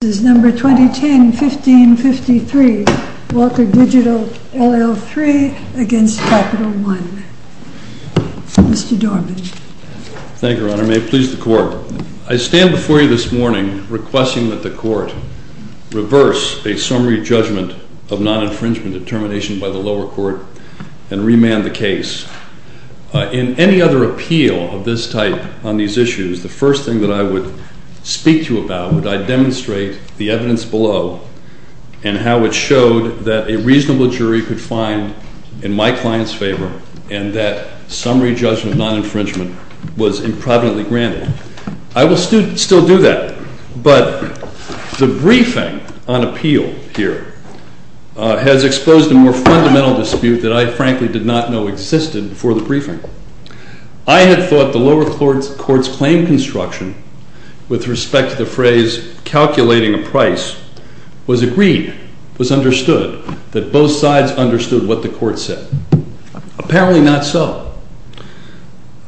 This is No. 2010-1553, Walker Digital, LL. 3 against Capital One. Mr. Dorman. Thank you, Your Honor. May it please the Court. I stand before you this morning requesting that the Court reverse a summary judgment of non-infringement determination by the lower court and remand the case. In any other appeal of this type on these issues, the first thing that I would speak to you about would I demonstrate the evidence below and how it showed that a reasonable jury could find in my client's favor and that summary judgment of non-infringement was improvidently granted. I will still do that, but the briefing on appeal here has exposed a more fundamental dispute that I frankly did not know existed before the briefing. I had thought the lower court's claim construction with respect to the phrase calculating a price was agreed, was understood, that both sides understood what the court said. Apparently not so.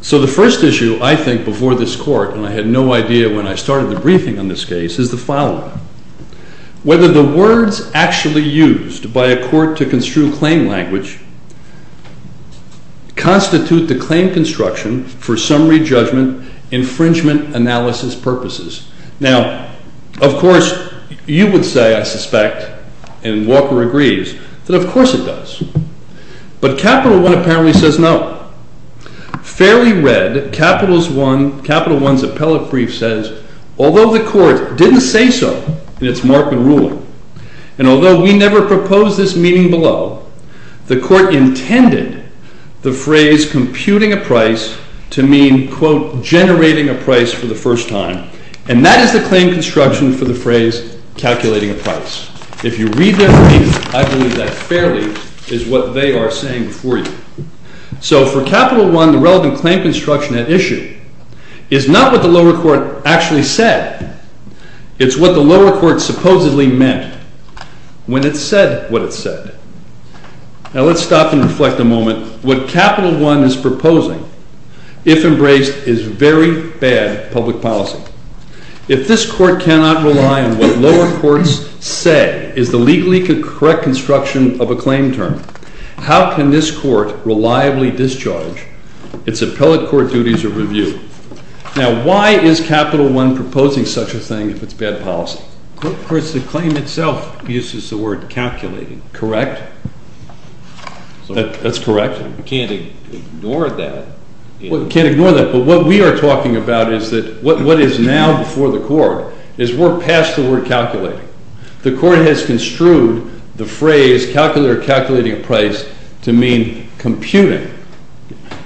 So the first issue I think before this Court, and I had no idea when I started the briefing on this case, is the following. Whether the words actually used by a court to construe claim language constitute the claim construction for summary judgment infringement analysis purposes. Now, of course, you would say, I suspect, and Walker agrees, that of course it does. But Capital One apparently says no. Fairly read, Capital One's appellate brief says, although the court didn't say so in its mark and ruling, and although we never proposed this meaning below, the court intended the phrase computing a price to mean, quote, generating a price for the first time, and that is the claim construction for the phrase calculating a price. If you read their brief, I believe that fairly is what they are saying before you. So for Capital One, the relevant claim construction at issue is not what the lower court actually said. It's what the lower court supposedly meant when it said what it said. Now let's stop and reflect a moment. What Capital One is proposing, if embraced, is very bad public policy. If this court cannot rely on what lower courts say is the legally correct construction of a claim term, how can this court reliably discharge its appellate court duties of review? Now, why is Capital One proposing such a thing if it's bad policy? Of course, the claim itself uses the word calculating. Correct. That's correct. We can't ignore that. We can't ignore that. But what we are talking about is that what is now before the court is we're past the word calculating. The court has construed the phrase calculator calculating a price to mean computing.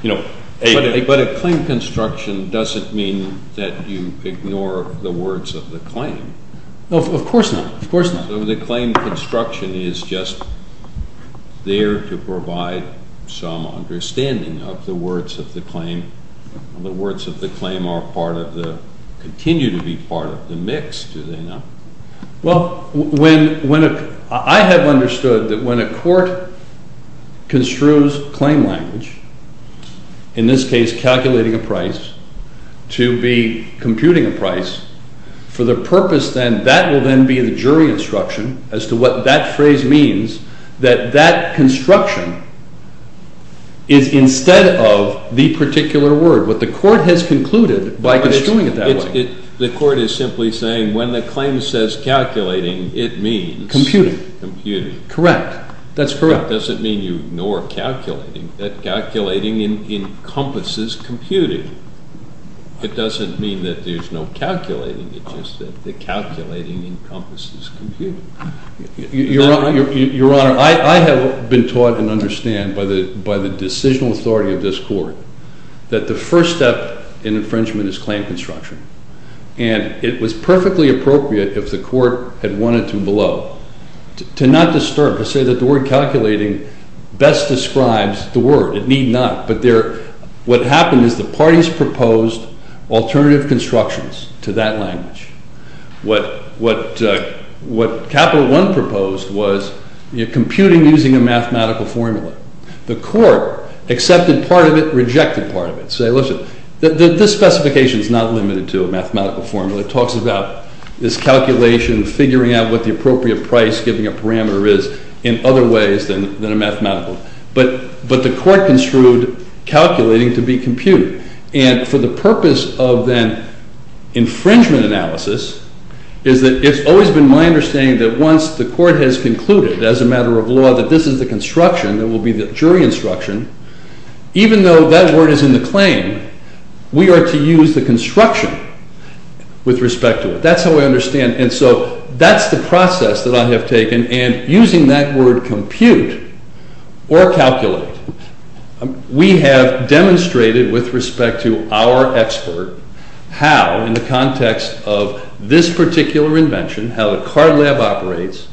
But a claim construction doesn't mean that you ignore the words of the claim. No, of course not. So the claim construction is just there to provide some understanding of the words of the claim. The words of the claim continue to be part of the mix, do they not? Well, I have understood that when a court construes claim language, in this case calculating a price, to be computing a price, for the purpose then, that will then be the jury instruction as to what that phrase means, that that construction is instead of the particular word. What the court has concluded by construing it that way. The court is simply saying when the claim says calculating it means computing. Correct. That's correct. It doesn't mean you ignore calculating. Calculating encompasses computing. It doesn't mean that there's no calculating. It's just that calculating encompasses computing. Your Honor, I have been taught and understand by the decisional authority of this court that the first step in infringement is claim construction. And it was perfectly appropriate if the court had wanted to below to not disturb, to say that the word calculating best describes the word. It need not. But what happened is the parties proposed alternative constructions to that language. What Capital One proposed was computing using a mathematical formula. The court accepted part of it, rejected part of it. Say, listen, this specification is not limited to a mathematical formula. It talks about this calculation, figuring out what the appropriate price, giving a parameter is in other ways than a mathematical. But the court construed calculating to be computing. And for the purpose of then infringement analysis, is that it's always been my understanding that once the court has concluded, as a matter of law, that this is the construction that will be the jury instruction, even though that word is in the claim, we are to use the construction with respect to it. That's how I understand. And so that's the process that I have taken. And using that word compute or calculate, we have demonstrated with respect to our expert how, in the context of this particular invention, how the Card Lab operates,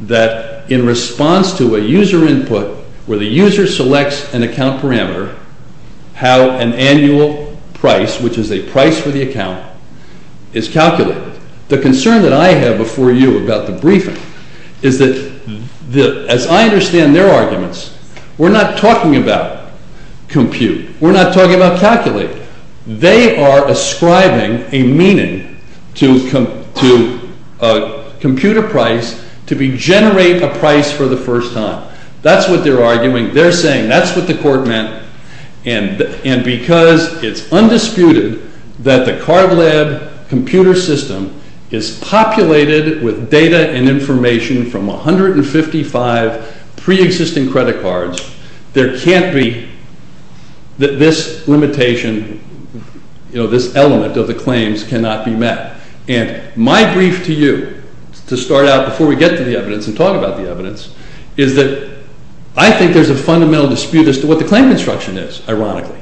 that in response to a user input, where the user selects an account parameter, how an annual price, which is a price for the account, is calculated. The concern that I have before you about the briefing is that, as I understand their arguments, we're not talking about compute. We're not talking about calculate. They are ascribing a meaning to compute a price to generate a price for the first time. That's what they're arguing. They're saying that's what the court meant, and because it's undisputed that the Card Lab computer system is populated with data and information from 155 pre-existing credit cards, there can't be this limitation, this element of the claims cannot be met. And my brief to you, to start out before we get to the evidence and talk about the evidence, is that I think there's a fundamental dispute as to what the claim construction is, ironically.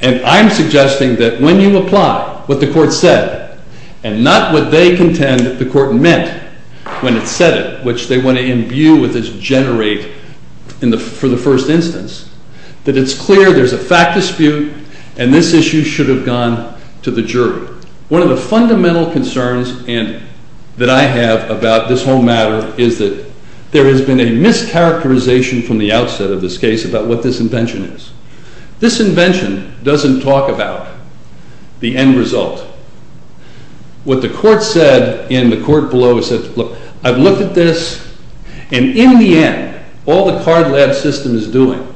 And I'm suggesting that when you apply what the court said and not what they contend that the court meant when it said it, which they want to imbue with this generate for the first instance, that it's clear there's a fact dispute and this issue should have gone to the jury. One of the fundamental concerns that I have about this whole matter is that there has been a mischaracterization from the outset of this case about what this invention is. This invention doesn't talk about the end result. What the court said, and the court below has said, I've looked at this, and in the end, all the Card Lab system is doing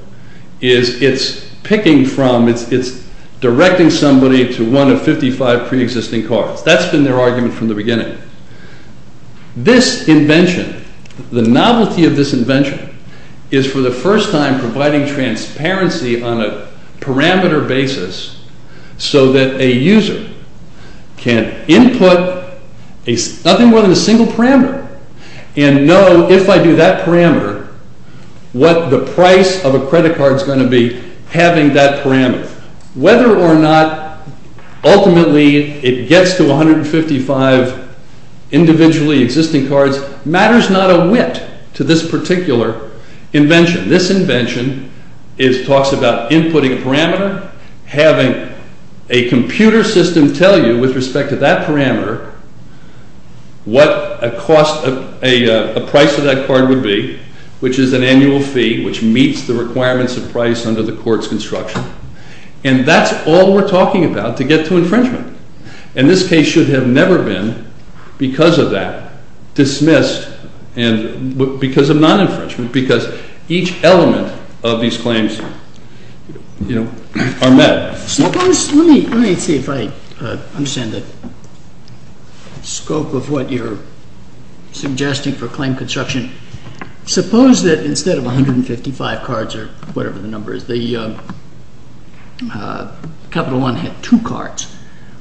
is it's picking from, it's directing somebody to one of 55 pre-existing cards. That's been their argument from the beginning. This invention, the novelty of this invention, is for the first time providing transparency on a parameter basis so that a user can input nothing more than a single parameter and know if I do that parameter, what the price of a credit card is going to be having that parameter. Whether or not ultimately it gets to 155 individually existing cards matters not a whit to this particular invention. This invention talks about inputting a parameter, having a computer system tell you with respect to that parameter what a price of that card would be, which is an annual fee which meets the requirements of price under the court's construction. And that's all we're talking about to get to infringement. And this case should have never been, because of that, dismissed because of non-infringement because each element of these claims are met. Let me see if I understand the scope of what you're suggesting for claim construction. Suppose that instead of 155 cards or whatever the number is, Capital One had two cards,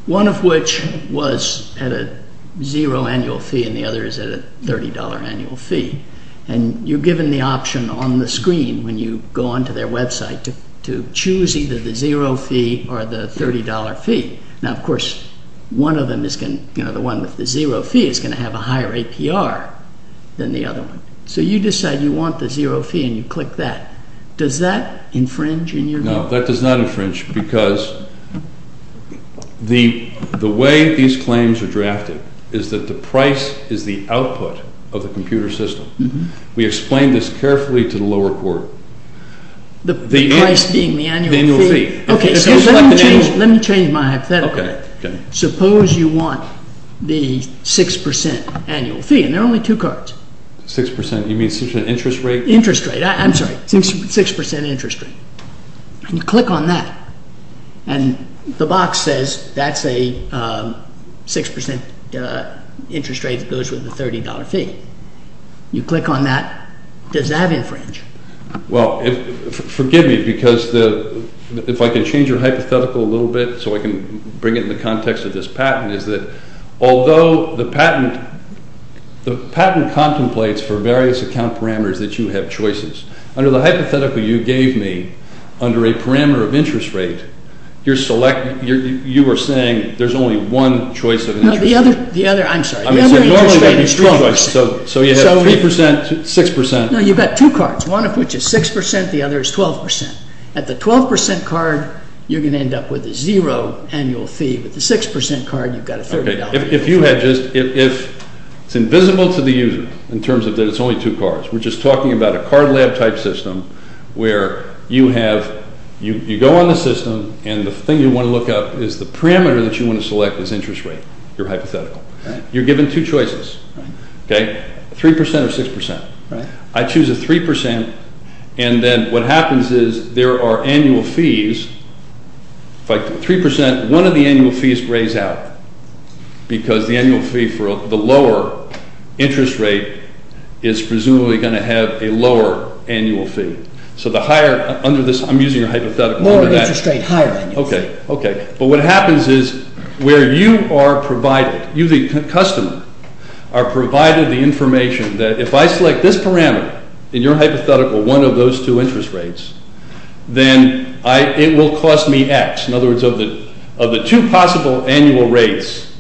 one of which was at a zero annual fee and the other is at a $30 annual fee. And you're given the option on the screen when you go onto their website to choose either the zero fee or the $30 fee. Now, of course, the one with the zero fee is going to have a higher APR than the other one. So you decide you want the zero fee and you click that. Does that infringe in your view? No, that does not infringe because the way these claims are drafted is that the price is the output of the computer system. We explained this carefully to the lower court. The price being the annual fee. Okay, so let me change my hypothetical. Suppose you want the 6% annual fee and there are only two cards. 6%, you mean 6% interest rate? Interest rate, I'm sorry, 6% interest rate. And you click on that. And the box says that's a 6% interest rate that goes with the $30 fee. You click on that. Does that infringe? Well, forgive me because if I can change your hypothetical a little bit so I can bring it in the context of this patent is that although the patent contemplates for various account parameters that you have choices, under the hypothetical you gave me, under a parameter of interest rate, you were saying there's only one choice of interest rate. I'm sorry, the other interest rate is 3%. So you have 3%, 6%. No, you've got two cards, one of which is 6%, the other is 12%. At the 12% card, you're going to end up with a zero annual fee. With the 6% card, you've got a $30 fee. If it's invisible to the user in terms of that it's only two cards, we're just talking about a card lab type system where you go on the system and the thing you want to look up is the parameter that you want to select as interest rate, your hypothetical. You're given two choices, 3% or 6%. I choose a 3%, and then what happens is there are annual fees. If I put 3%, one of the annual fees grays out because the annual fee for the lower interest rate is presumably going to have a lower annual fee. So the higher, under this, I'm using your hypothetical. Lower interest rate, higher annual fee. Okay, okay. But what happens is where you are provided, you the customer, are provided the information that if I select this parameter in your hypothetical, one of those two interest rates, then it will cost me X. In other words, of the two possible annual rates,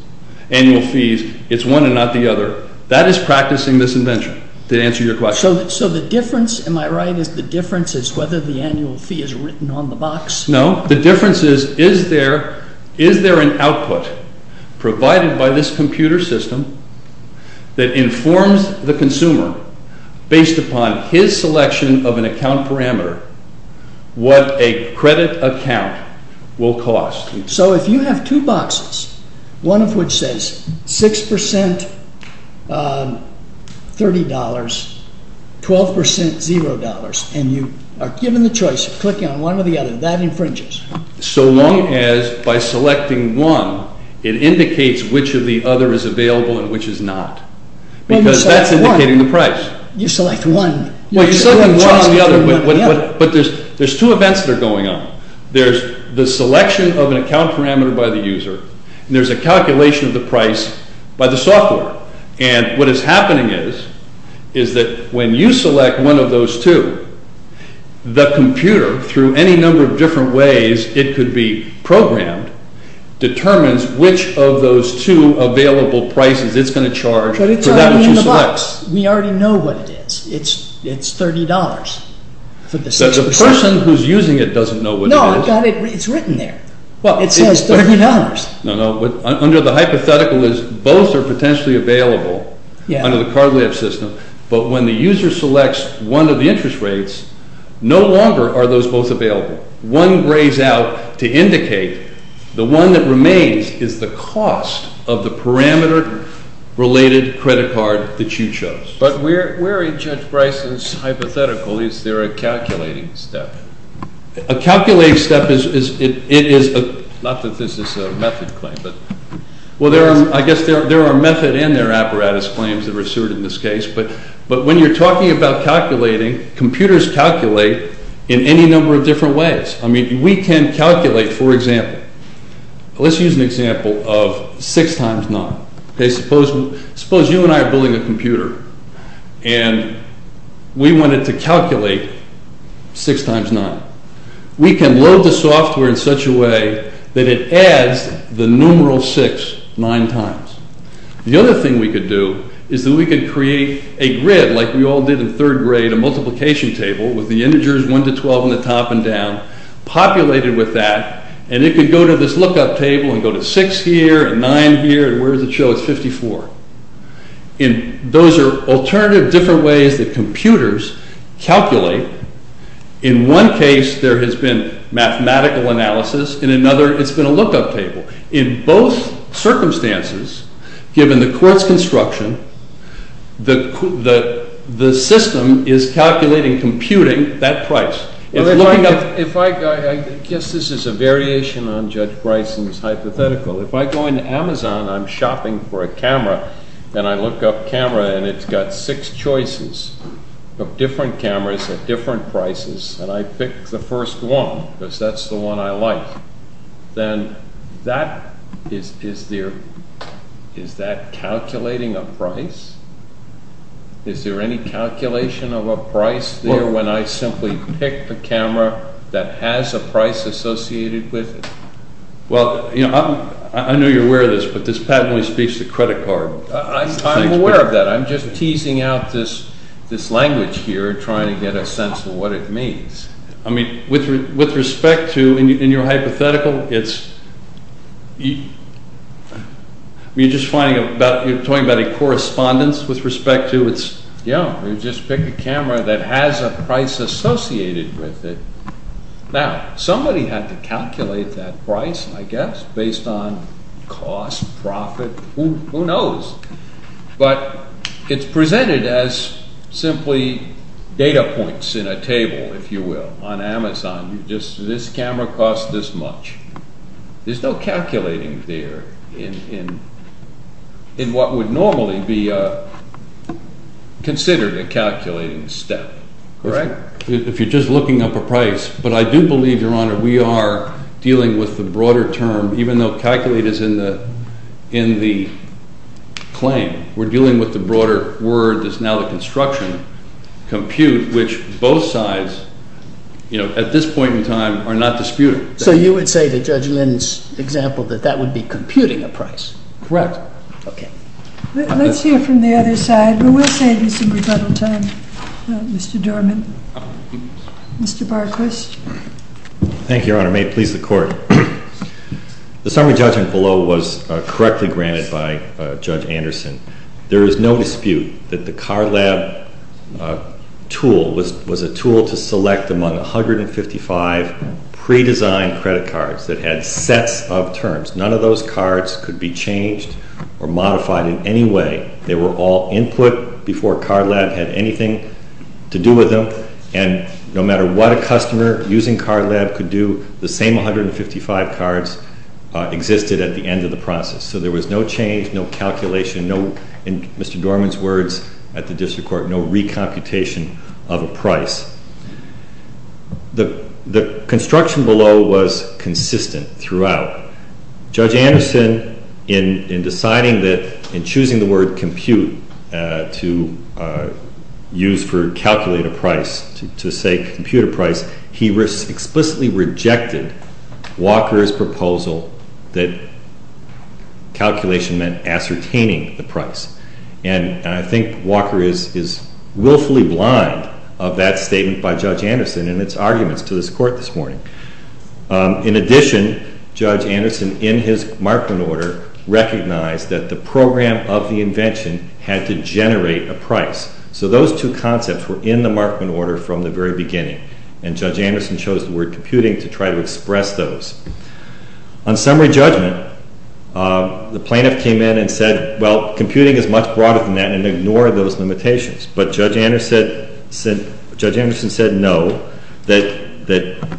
annual fees, it's one and not the other. That is practicing this invention. Did I answer your question? So the difference, am I right, is the difference is whether the annual fee is written on the box? No, the difference is, is there an output provided by this computer system that informs the consumer based upon his selection of an account parameter what a credit account will cost? So if you have two boxes, one of which says 6% $30, 12% $0, and you are given the choice of clicking on one or the other, that infringes. So long as by selecting one, it indicates which of the other is available and which is not. Because that's indicating the price. You select one. Well, you select one or the other, but there's two events that are going on. There's the selection of an account parameter by the user, and there's a calculation of the price by the software. And what is happening is that when you select one of those two, the computer, through any number of different ways it could be programmed, determines which of those two available prices it's going to charge for that which you select. But it's already in the box. We already know what it is. It's $30 for the 6%. So the person who's using it doesn't know what it is. No, it's written there. It says $30. No, no. Under the hypothetical, both are potentially available under the Card Lab system, but when the user selects one of the interest rates, no longer are those both available. One grays out to indicate the one that remains is the cost of the parameter-related credit card that you chose. But where in Judge Bryson's hypothetical is there a calculating step? A calculating step is a—not that this is a method claim, but— Well, I guess there are method and there are apparatus claims that are asserted in this case, but when you're talking about calculating, computers calculate in any number of different ways. I mean, we can calculate, for example—let's use an example of 6 times 9. Suppose you and I are building a computer and we wanted to calculate 6 times 9. We can load the software in such a way that it adds the numeral 6 nine times. The other thing we could do is that we could create a grid like we all did in third grade, a multiplication table with the integers 1 to 12 on the top and down, populated with that, and it could go to this lookup table and go to 6 here and 9 here, and where does it show? It's 54. And those are alternative different ways that computers calculate. In one case, there has been mathematical analysis. In another, it's been a lookup table. In both circumstances, given the court's construction, the system is calculating, computing that price. Well, if I—I guess this is a variation on Judge Bryson's hypothetical. If I go into Amazon, I'm shopping for a camera, and I look up camera, and it's got six choices of different cameras at different prices, and I pick the first one because that's the one I like, then that is—is there—is that calculating a price? Is there any calculation of a price there when I simply pick the camera that has a price associated with it? Well, you know, I'm—I know you're aware of this, but this patently speaks to credit card. I'm aware of that. I'm just teasing out this language here, trying to get a sense of what it means. I mean, with respect to—in your hypothetical, it's—you're just finding about—you're talking about a correspondence with respect to its— yeah, you just pick a camera that has a price associated with it. Now, somebody had to calculate that price, I guess, based on cost, profit, who knows? But it's presented as simply data points in a table, if you will. On Amazon, you just—this camera costs this much. There's no calculating there in what would normally be considered a calculating step, correct? If you're just looking up a price. But I do believe, Your Honor, we are dealing with the broader term, even though calculate is in the—in the claim. We're dealing with the broader word that's now the construction, compute, which both sides, you know, at this point in time are not disputing. So you would say that Judge Lynn's example, that that would be computing a price? Correct. Okay. Let's hear from the other side. We will save you some rebuttal time, Mr. Dorman. Mr. Barquist. Thank you, Your Honor. May it please the Court. The summary judgment below was correctly granted by Judge Anderson. There is no dispute that the Card Lab tool was a tool to select among 155 pre-designed credit cards that had sets of terms. None of those cards could be changed or modified in any way. They were all input before Card Lab had anything to do with them. And no matter what a customer using Card Lab could do, the same 155 cards existed at the end of the process. So there was no change, no calculation, no—in Mr. Dorman's words at the district court—no recomputation of a price. The construction below was consistent throughout. Judge Anderson, in deciding that—in choosing the word compute to use for calculate a price, to say compute a price, he explicitly rejected Walker's proposal that calculation meant ascertaining the price. And I think Walker is willfully blind of that statement by Judge Anderson and its arguments to this Court this morning. In addition, Judge Anderson, in his markment order, recognized that the program of the invention had to generate a price. So those two concepts were in the markment order from the very beginning. And Judge Anderson chose the word computing to try to express those. On summary judgment, the plaintiff came in and said, well, computing is much broader than that, and ignored those limitations. But Judge Anderson said no, that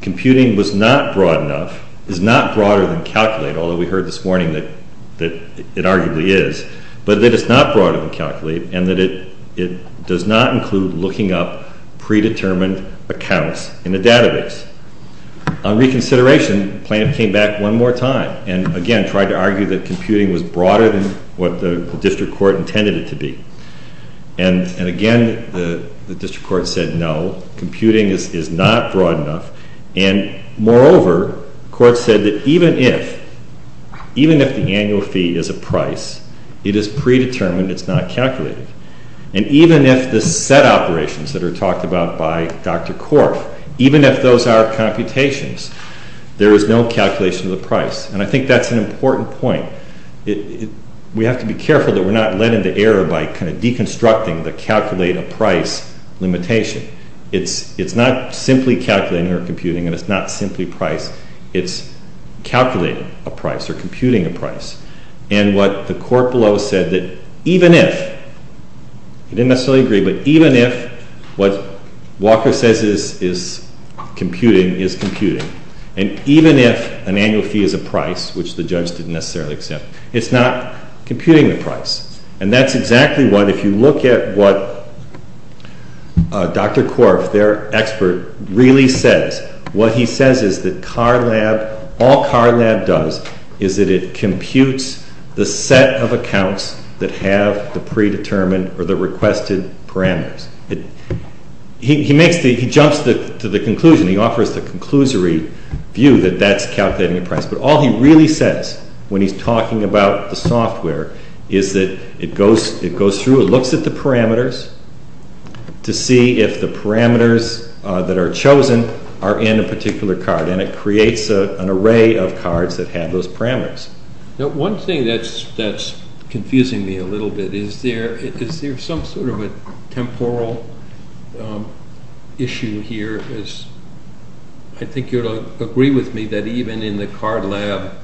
computing was not broad enough, is not broader than calculate, although we heard this morning that it arguably is, but that it's not broader than calculate, and that it does not include looking up predetermined accounts in a database. On reconsideration, the plaintiff came back one more time and, again, tried to argue that computing was broader than what the district court intended it to be. And, again, the district court said no, computing is not broad enough. And, moreover, the court said that even if the annual fee is a price, it is predetermined, it's not calculated. And even if the set operations that are talked about by Dr. Korf, even if those are computations, there is no calculation of the price. And I think that's an important point. We have to be careful that we're not led into error by kind of deconstructing the calculate a price limitation. It's not simply calculating or computing, and it's not simply price, it's calculating a price or computing a price. And what the court below said that even if, they didn't necessarily agree, but even if what Walker says is computing is computing, and even if an annual fee is a price, which the judge didn't necessarily accept, it's not computing the price. And that's exactly what, if you look at what Dr. Korf, their expert, really says, what he says is that CAR Lab, all CAR Lab does is that it computes the set of accounts that have the predetermined or the requested parameters. He jumps to the conclusion, he offers the conclusory view that that's calculating a price, but all he really says when he's talking about the software is that it goes through, it looks at the parameters, to see if the parameters that are chosen are in a particular card, and it creates an array of cards that have those parameters. Now one thing that's confusing me a little bit, is there some sort of a temporal issue here? I think you'll agree with me that even in the CAR Lab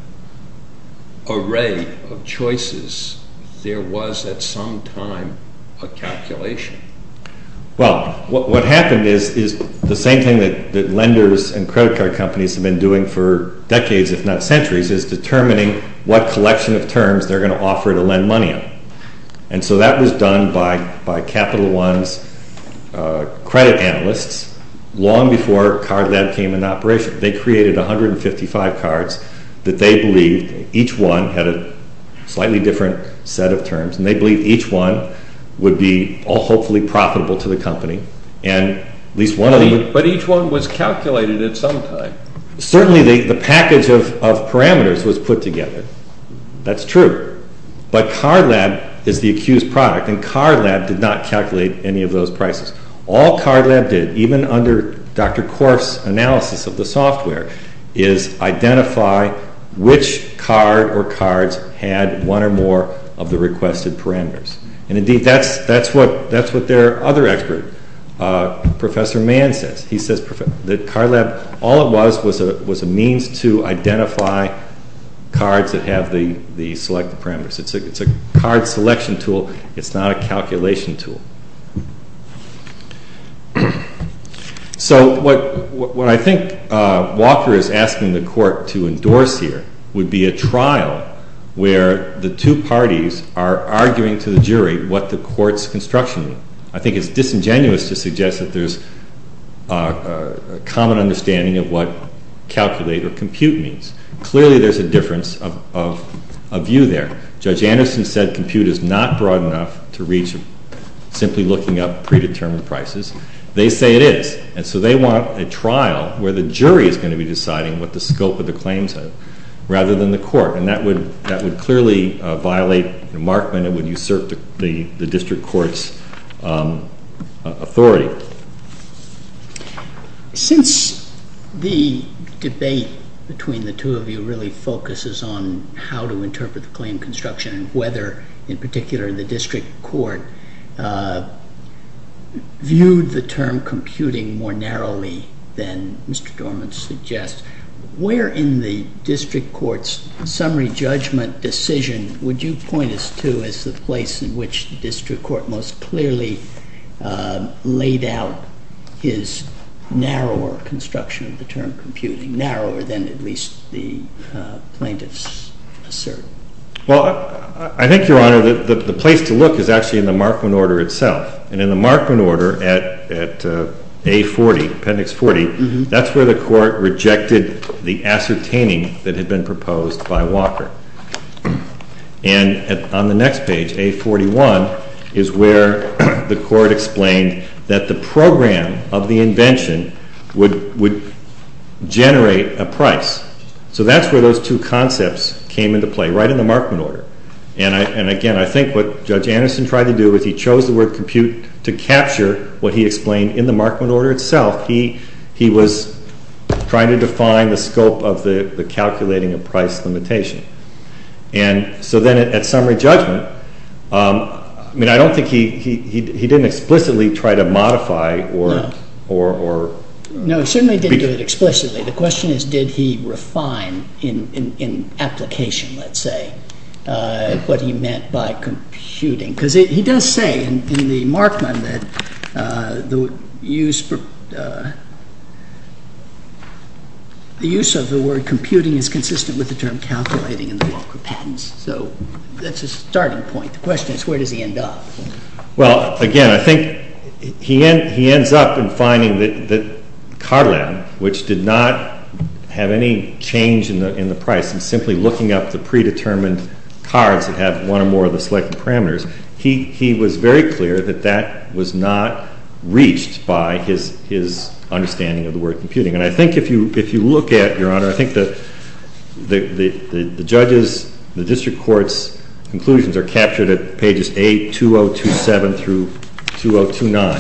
array of choices, there was at some time a calculation. Well, what happened is the same thing that lenders and credit card companies have been doing for decades, if not centuries, is determining what collection of terms they're going to offer to lend money on. And so that was done by Capital One's credit analysts long before CAR Lab came into operation. They created 155 cards that they believed, each one had a slightly different set of terms, and they believed each one would be hopefully profitable to the company. But each one was calculated at some time. Certainly the package of parameters was put together, that's true. But CAR Lab is the accused product, and CAR Lab did not calculate any of those prices. All CAR Lab did, even under Dr. Korf's analysis of the software, is identify which card or cards had one or more of the requested parameters. And indeed that's what their other expert, Professor Mann, says. That CAR Lab, all it was, was a means to identify cards that have the selected parameters. It's a card selection tool, it's not a calculation tool. So what I think Walker is asking the court to endorse here would be a trial where the two parties are arguing to the jury what the court's construction is. I think it's disingenuous to suggest that there's a common understanding of what calculate or compute means. Clearly there's a difference of view there. Judge Anderson said compute is not broad enough to reach simply looking up predetermined prices. They say it is. And so they want a trial where the jury is going to be deciding what the scope of the claims are rather than the court. And that would clearly violate remarkment. It would usurp the district court's authority. Since the debate between the two of you really focuses on how to interpret the claim construction and whether in particular the district court viewed the term computing more narrowly than Mr. Dorman suggests, where in the district court's summary judgment decision would you point us to as the place in which the district court most clearly laid out his narrower construction of the term computing, narrower than at least the plaintiffs assert? Well, I think, Your Honor, the place to look is actually in the Markman order itself. And in the Markman order at A40, Appendix 40, that's where the court rejected the ascertaining that had been proposed by Walker. And on the next page, A41, is where the court explained that the program of the invention would generate a price. So that's where those two concepts came into play, right in the Markman order. And again, I think what Judge Anderson tried to do was he chose the word compute to capture what he explained in the Markman order itself. He was trying to define the scope of the calculating of price limitation. And so then at summary judgment, I mean, I don't think he didn't explicitly try to modify or... No, he certainly didn't do it explicitly. The question is, did he refine in application, let's say, what he meant by computing? Because he does say in the Markman that the use of the word computing is consistent with the term calculating in the Walker patents. So that's a starting point. The question is, where does he end up? Well, again, I think he ends up in finding that Card Lab, which did not have any change in the price, and simply looking up the predetermined cards that have one or more of the selected parameters, he was very clear that that was not reached by his understanding of the word computing. And I think if you look at, Your Honor, I think that the judges, the district court's conclusions are captured at pages 8, 2027 through 2029.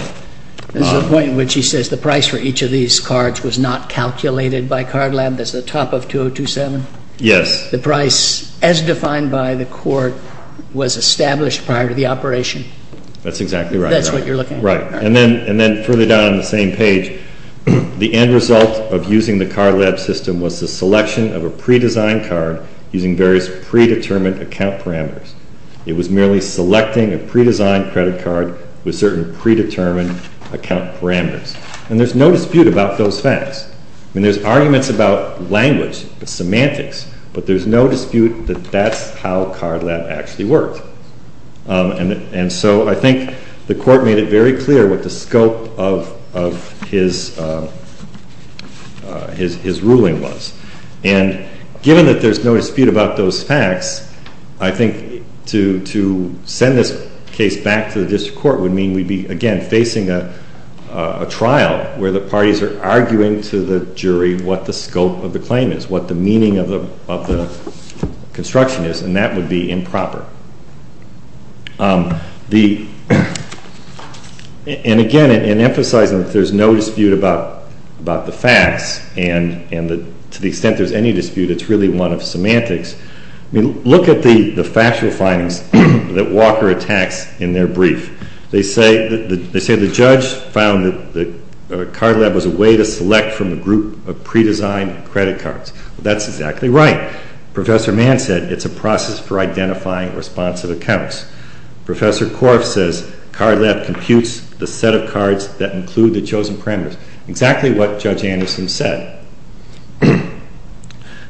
That's the point in which he says the price for each of these cards was not calculated by Card Lab. That's the top of 2027? Yes. The price, as defined by the court, was established prior to the operation? That's exactly right. That's what you're looking for. Right. And then further down on the same page, the end result of using the Card Lab system was the selection of a predesigned card using various predetermined account parameters. It was merely selecting a predesigned credit card with certain predetermined account parameters. And there's no dispute about those facts. I mean, there's arguments about language, semantics, but there's no dispute that that's how Card Lab actually worked. And so I think the court made it very clear what the scope of his ruling was. And given that there's no dispute about those facts, I think to send this case back to the district court would mean we'd be, again, facing a trial where the parties are arguing to the jury what the scope of the claim is, what the meaning of the construction is, and that would be improper. And again, in emphasizing that there's no dispute about the facts and to the extent there's any dispute, it's really one of semantics. I mean, look at the factual findings that Walker attacks in their brief. They say the judge found that Card Lab was a way to select from a group of predesigned credit cards. That's exactly right. Professor Mann said it's a process for identifying responsive accounts. Professor Korf says Card Lab computes the set of cards that include the chosen parameters. Exactly what Judge Anderson said.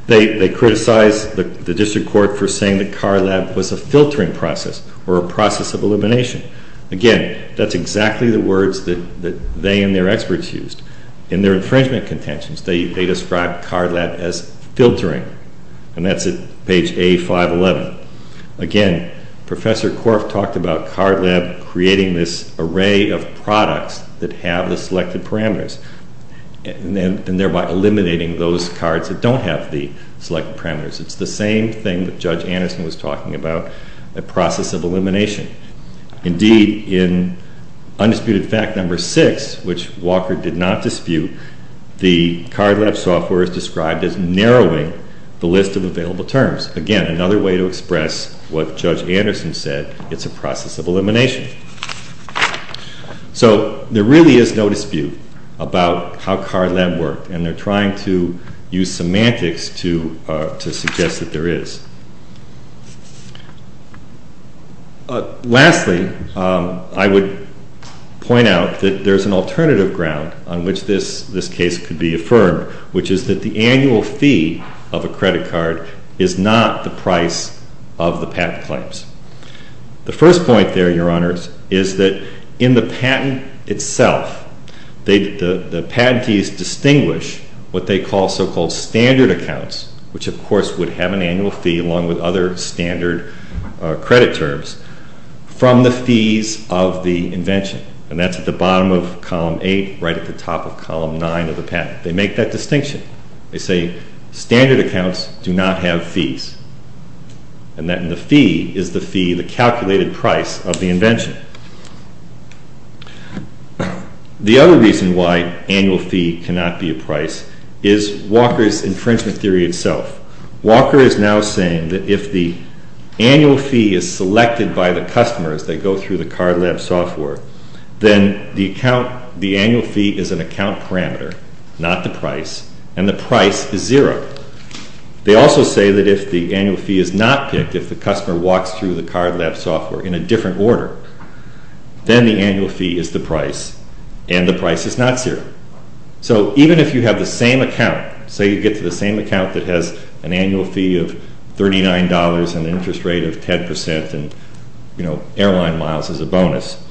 They criticized the district court for saying that Card Lab was a filtering process or a process of elimination. Again, that's exactly the words that they and their experts used. In their infringement contentions, they described Card Lab as filtering, and that's at page A511. Again, Professor Korf talked about Card Lab creating this array of products that have the selected parameters and thereby eliminating those cards that don't have the selected parameters. It's the same thing that Judge Anderson was talking about, a process of elimination. Indeed, in Undisputed Fact No. 6, which Walker did not dispute, the Card Lab software is described as narrowing the list of available terms. Again, another way to express what Judge Anderson said, it's a process of elimination. So there really is no dispute about how Card Lab worked, and they're trying to use semantics to suggest that there is. Lastly, I would point out that there's an alternative ground on which this case could be affirmed, which is that the annual fee of a credit card is not the price of the patent claims. The first point there, Your Honors, is that in the patent itself, the patentees distinguish what they call so-called standard accounts, which of course would have an annual fee along with other standard credit terms, from the fees of the invention, and that's at the bottom of Column 8, right at the top of Column 9 of the patent. They make that distinction. They say standard accounts do not have fees, and that the fee is the fee, the calculated price of the invention. The other reason why annual fee cannot be a price is Walker's infringement theory itself. Walker is now saying that if the annual fee is selected by the customer as they go through the Card Lab software, then the account, the annual fee is an account parameter, not the price, and the price is zero. They also say that if the annual fee is not picked, if the customer walks through the Card Lab software in a different order, then the annual fee is the price, and the price is not zero. So even if you have the same account, say you get to the same account that has an annual fee of $39 and an interest rate of 10% and airline miles as a bonus,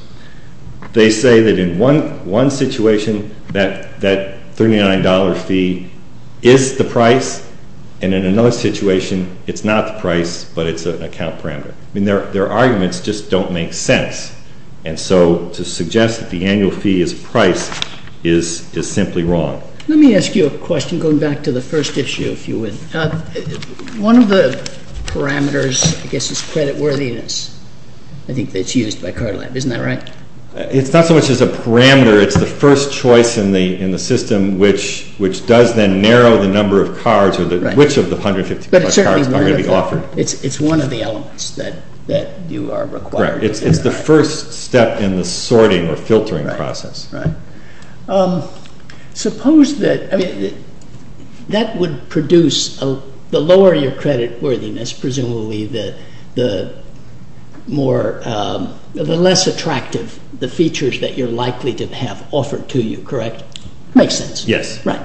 they say that in one situation, that $39 fee is the price, and in another situation, it's not the price, but it's an account parameter. I mean, their arguments just don't make sense. And so to suggest that the annual fee is price is simply wrong. Let me ask you a question, going back to the first issue, if you would. One of the parameters, I guess, is creditworthiness. I think that's used by Card Lab. Isn't that right? It's not so much as a parameter. It's the first choice in the system, which does then narrow the number of cards or which of the 150 plus cards are going to be offered. It's one of the elements that you are required to consider. Right. It's the first step in the sorting or filtering process. Right. Suppose that, I mean, that would produce, the lower your creditworthiness, presumably, the less attractive the features that you're likely to have offered to you. Correct? Makes sense. Yes. Right.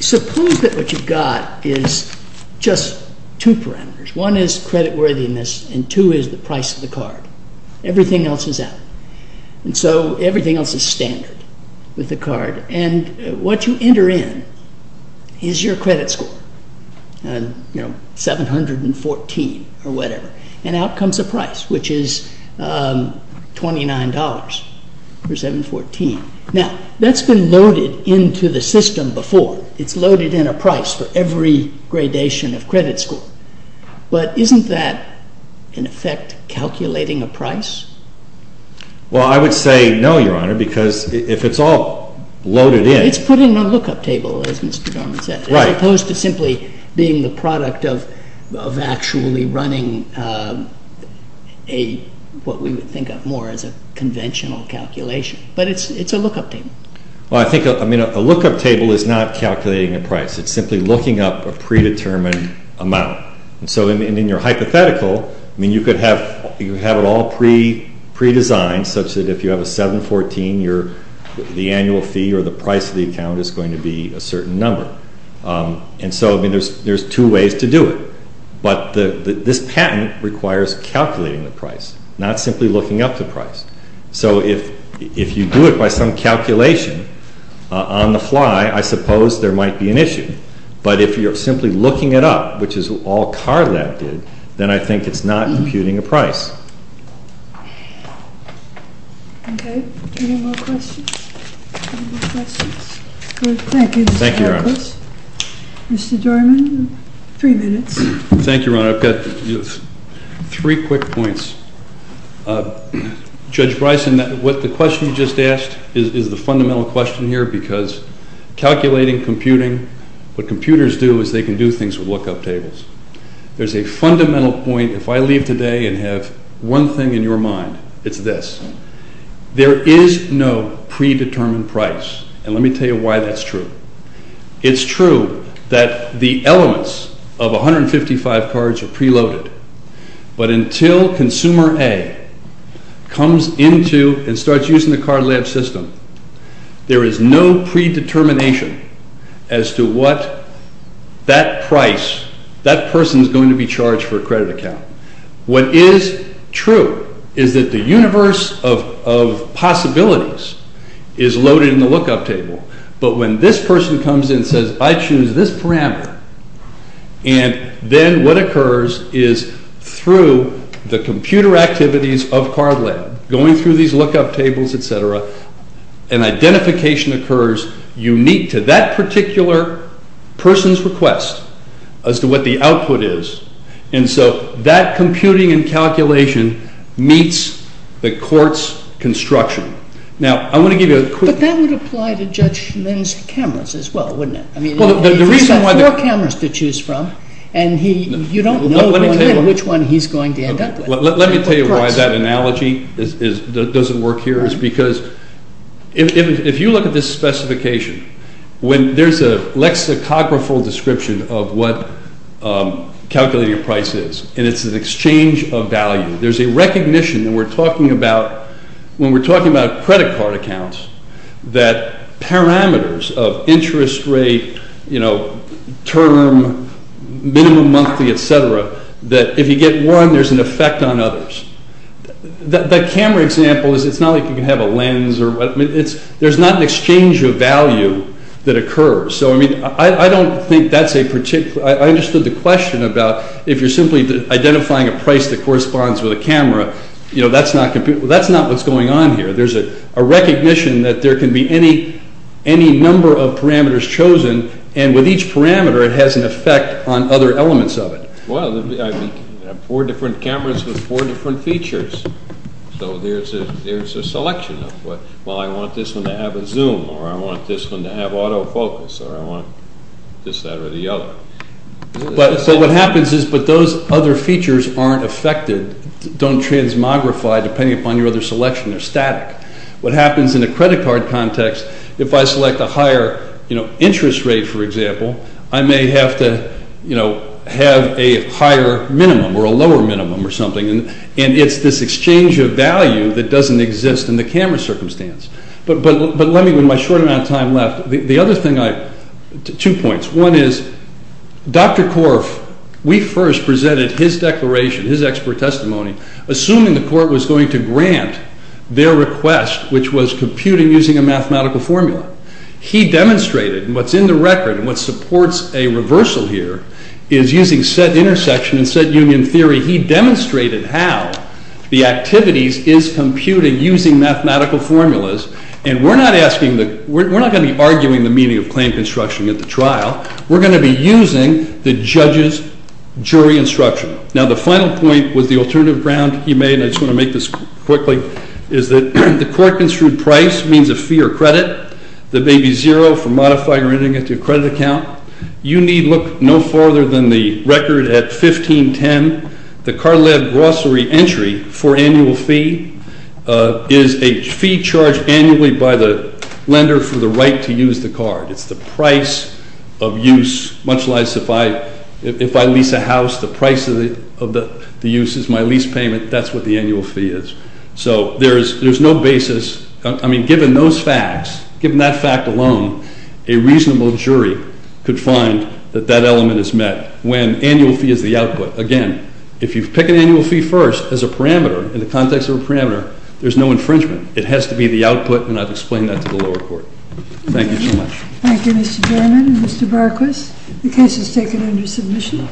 Suppose that what you've got is just two parameters. One is creditworthiness and two is the price of the card. Everything else is out. And so everything else is standard with the card. And what you enter in is your credit score, 714 or whatever. And out comes a price, which is $29 for 714. Now, that's been loaded into the system before. It's loaded in a price for every gradation of credit score. But isn't that, in effect, calculating a price? Well, I would say no, Your Honor, because if it's all loaded in— It's putting a lookup table, as Mr. Dorman said. Right. As opposed to simply being the product of actually running what we would think of more as a conventional calculation. But it's a lookup table. Well, I think a lookup table is not calculating a price. It's simply looking up a predetermined amount. And so in your hypothetical, you could have it all predesigned such that if you have a 714, the annual fee or the price of the account is going to be a certain number. And so there's two ways to do it. But this patent requires calculating the price, not simply looking up the price. So if you do it by some calculation on the fly, I suppose there might be an issue. But if you're simply looking it up, which is all CARLAB did, then I think it's not computing a price. Okay. Any more questions? Any more questions? Thank you, Mr. Harris. Thank you, Your Honor. Mr. Dorman, three minutes. Thank you, Your Honor. I've got three quick points. Judge Bryson, what the question you just asked is the fundamental question here, because calculating, computing, what computers do is they can do things with lookup tables. There's a fundamental point. If I leave today and have one thing in your mind, it's this. There is no predetermined price. And let me tell you why that's true. It's true that the elements of 155 cards are preloaded. But until consumer A comes into and starts using the CARLAB system, there is no predetermination as to what that price, that person is going to be charged for a credit account. What is true is that the universe of possibilities is loaded in the lookup table. But when this person comes in and says, I choose this parameter, and then what occurs is through the computer activities of CARLAB, going through these lookup tables, et cetera, an identification occurs unique to that particular person's request as to what the output is. And so that computing and calculation meets the court's construction. Now, I want to give you a quick— But that would apply to Judge Schoen's cameras as well, wouldn't it? He's got four cameras to choose from, and you don't know which one he's going to end up with. Let me tell you why that analogy doesn't work here. It's because if you look at this specification, when there's a lexicographer description of what calculating a price is, and it's an exchange of value, there's a recognition when we're talking about credit card accounts that parameters of interest rate, term, minimum monthly, et cetera, that if you get one, there's an effect on others. The camera example is it's not like you can have a lens. There's not an exchange of value that occurs. So I mean, I don't think that's a particular— I understood the question about if you're simply identifying a price that corresponds with a camera, that's not what's going on here. There's a recognition that there can be any number of parameters chosen, and with each parameter, it has an effect on other elements of it. Well, four different cameras with four different features. So there's a selection of, well, I want this one to have a zoom, or I want this one to have autofocus, or I want this, that, or the other. So what happens is, but those other features aren't affected, don't transmogrify depending upon your other selection. They're static. What happens in a credit card context, if I select a higher interest rate, for example, I may have to have a higher minimum or a lower minimum or something, and it's this exchange of value that doesn't exist in the camera circumstance. But let me, with my short amount of time left, the other thing I—two points. One is, Dr. Korf, we first presented his declaration, his expert testimony, assuming the court was going to grant their request, which was computing using a mathematical formula. He demonstrated, and what's in the record and what supports a reversal here, is using set intersection and set union theory, he demonstrated how the activities is computing using mathematical formulas, and we're not asking the—we're not going to be arguing the meaning of claim construction at the trial. We're going to be using the judge's jury instruction. Now, the final point was the alternative ground he made, and I just want to make this quickly, is that the court-construed price means a fee or credit that may be zero for modifying or entering into a credit account. You need look no farther than the record at 1510. The car-led grocery entry for annual fee is a fee charged annually by the lender for the right to use the car. It's the price of use, much like if I lease a house, the price of the use is my lease payment. That's what the annual fee is. So there's no basis—I mean, given those facts, given that fact alone, a reasonable jury could find that that element is met when annual fee is the output. Again, if you pick an annual fee first as a parameter, in the context of a parameter, there's no infringement. It has to be the output, and I've explained that to the lower court. Thank you so much. Thank you, Mr. Berman and Mr. Barquis. The case is taken under submission.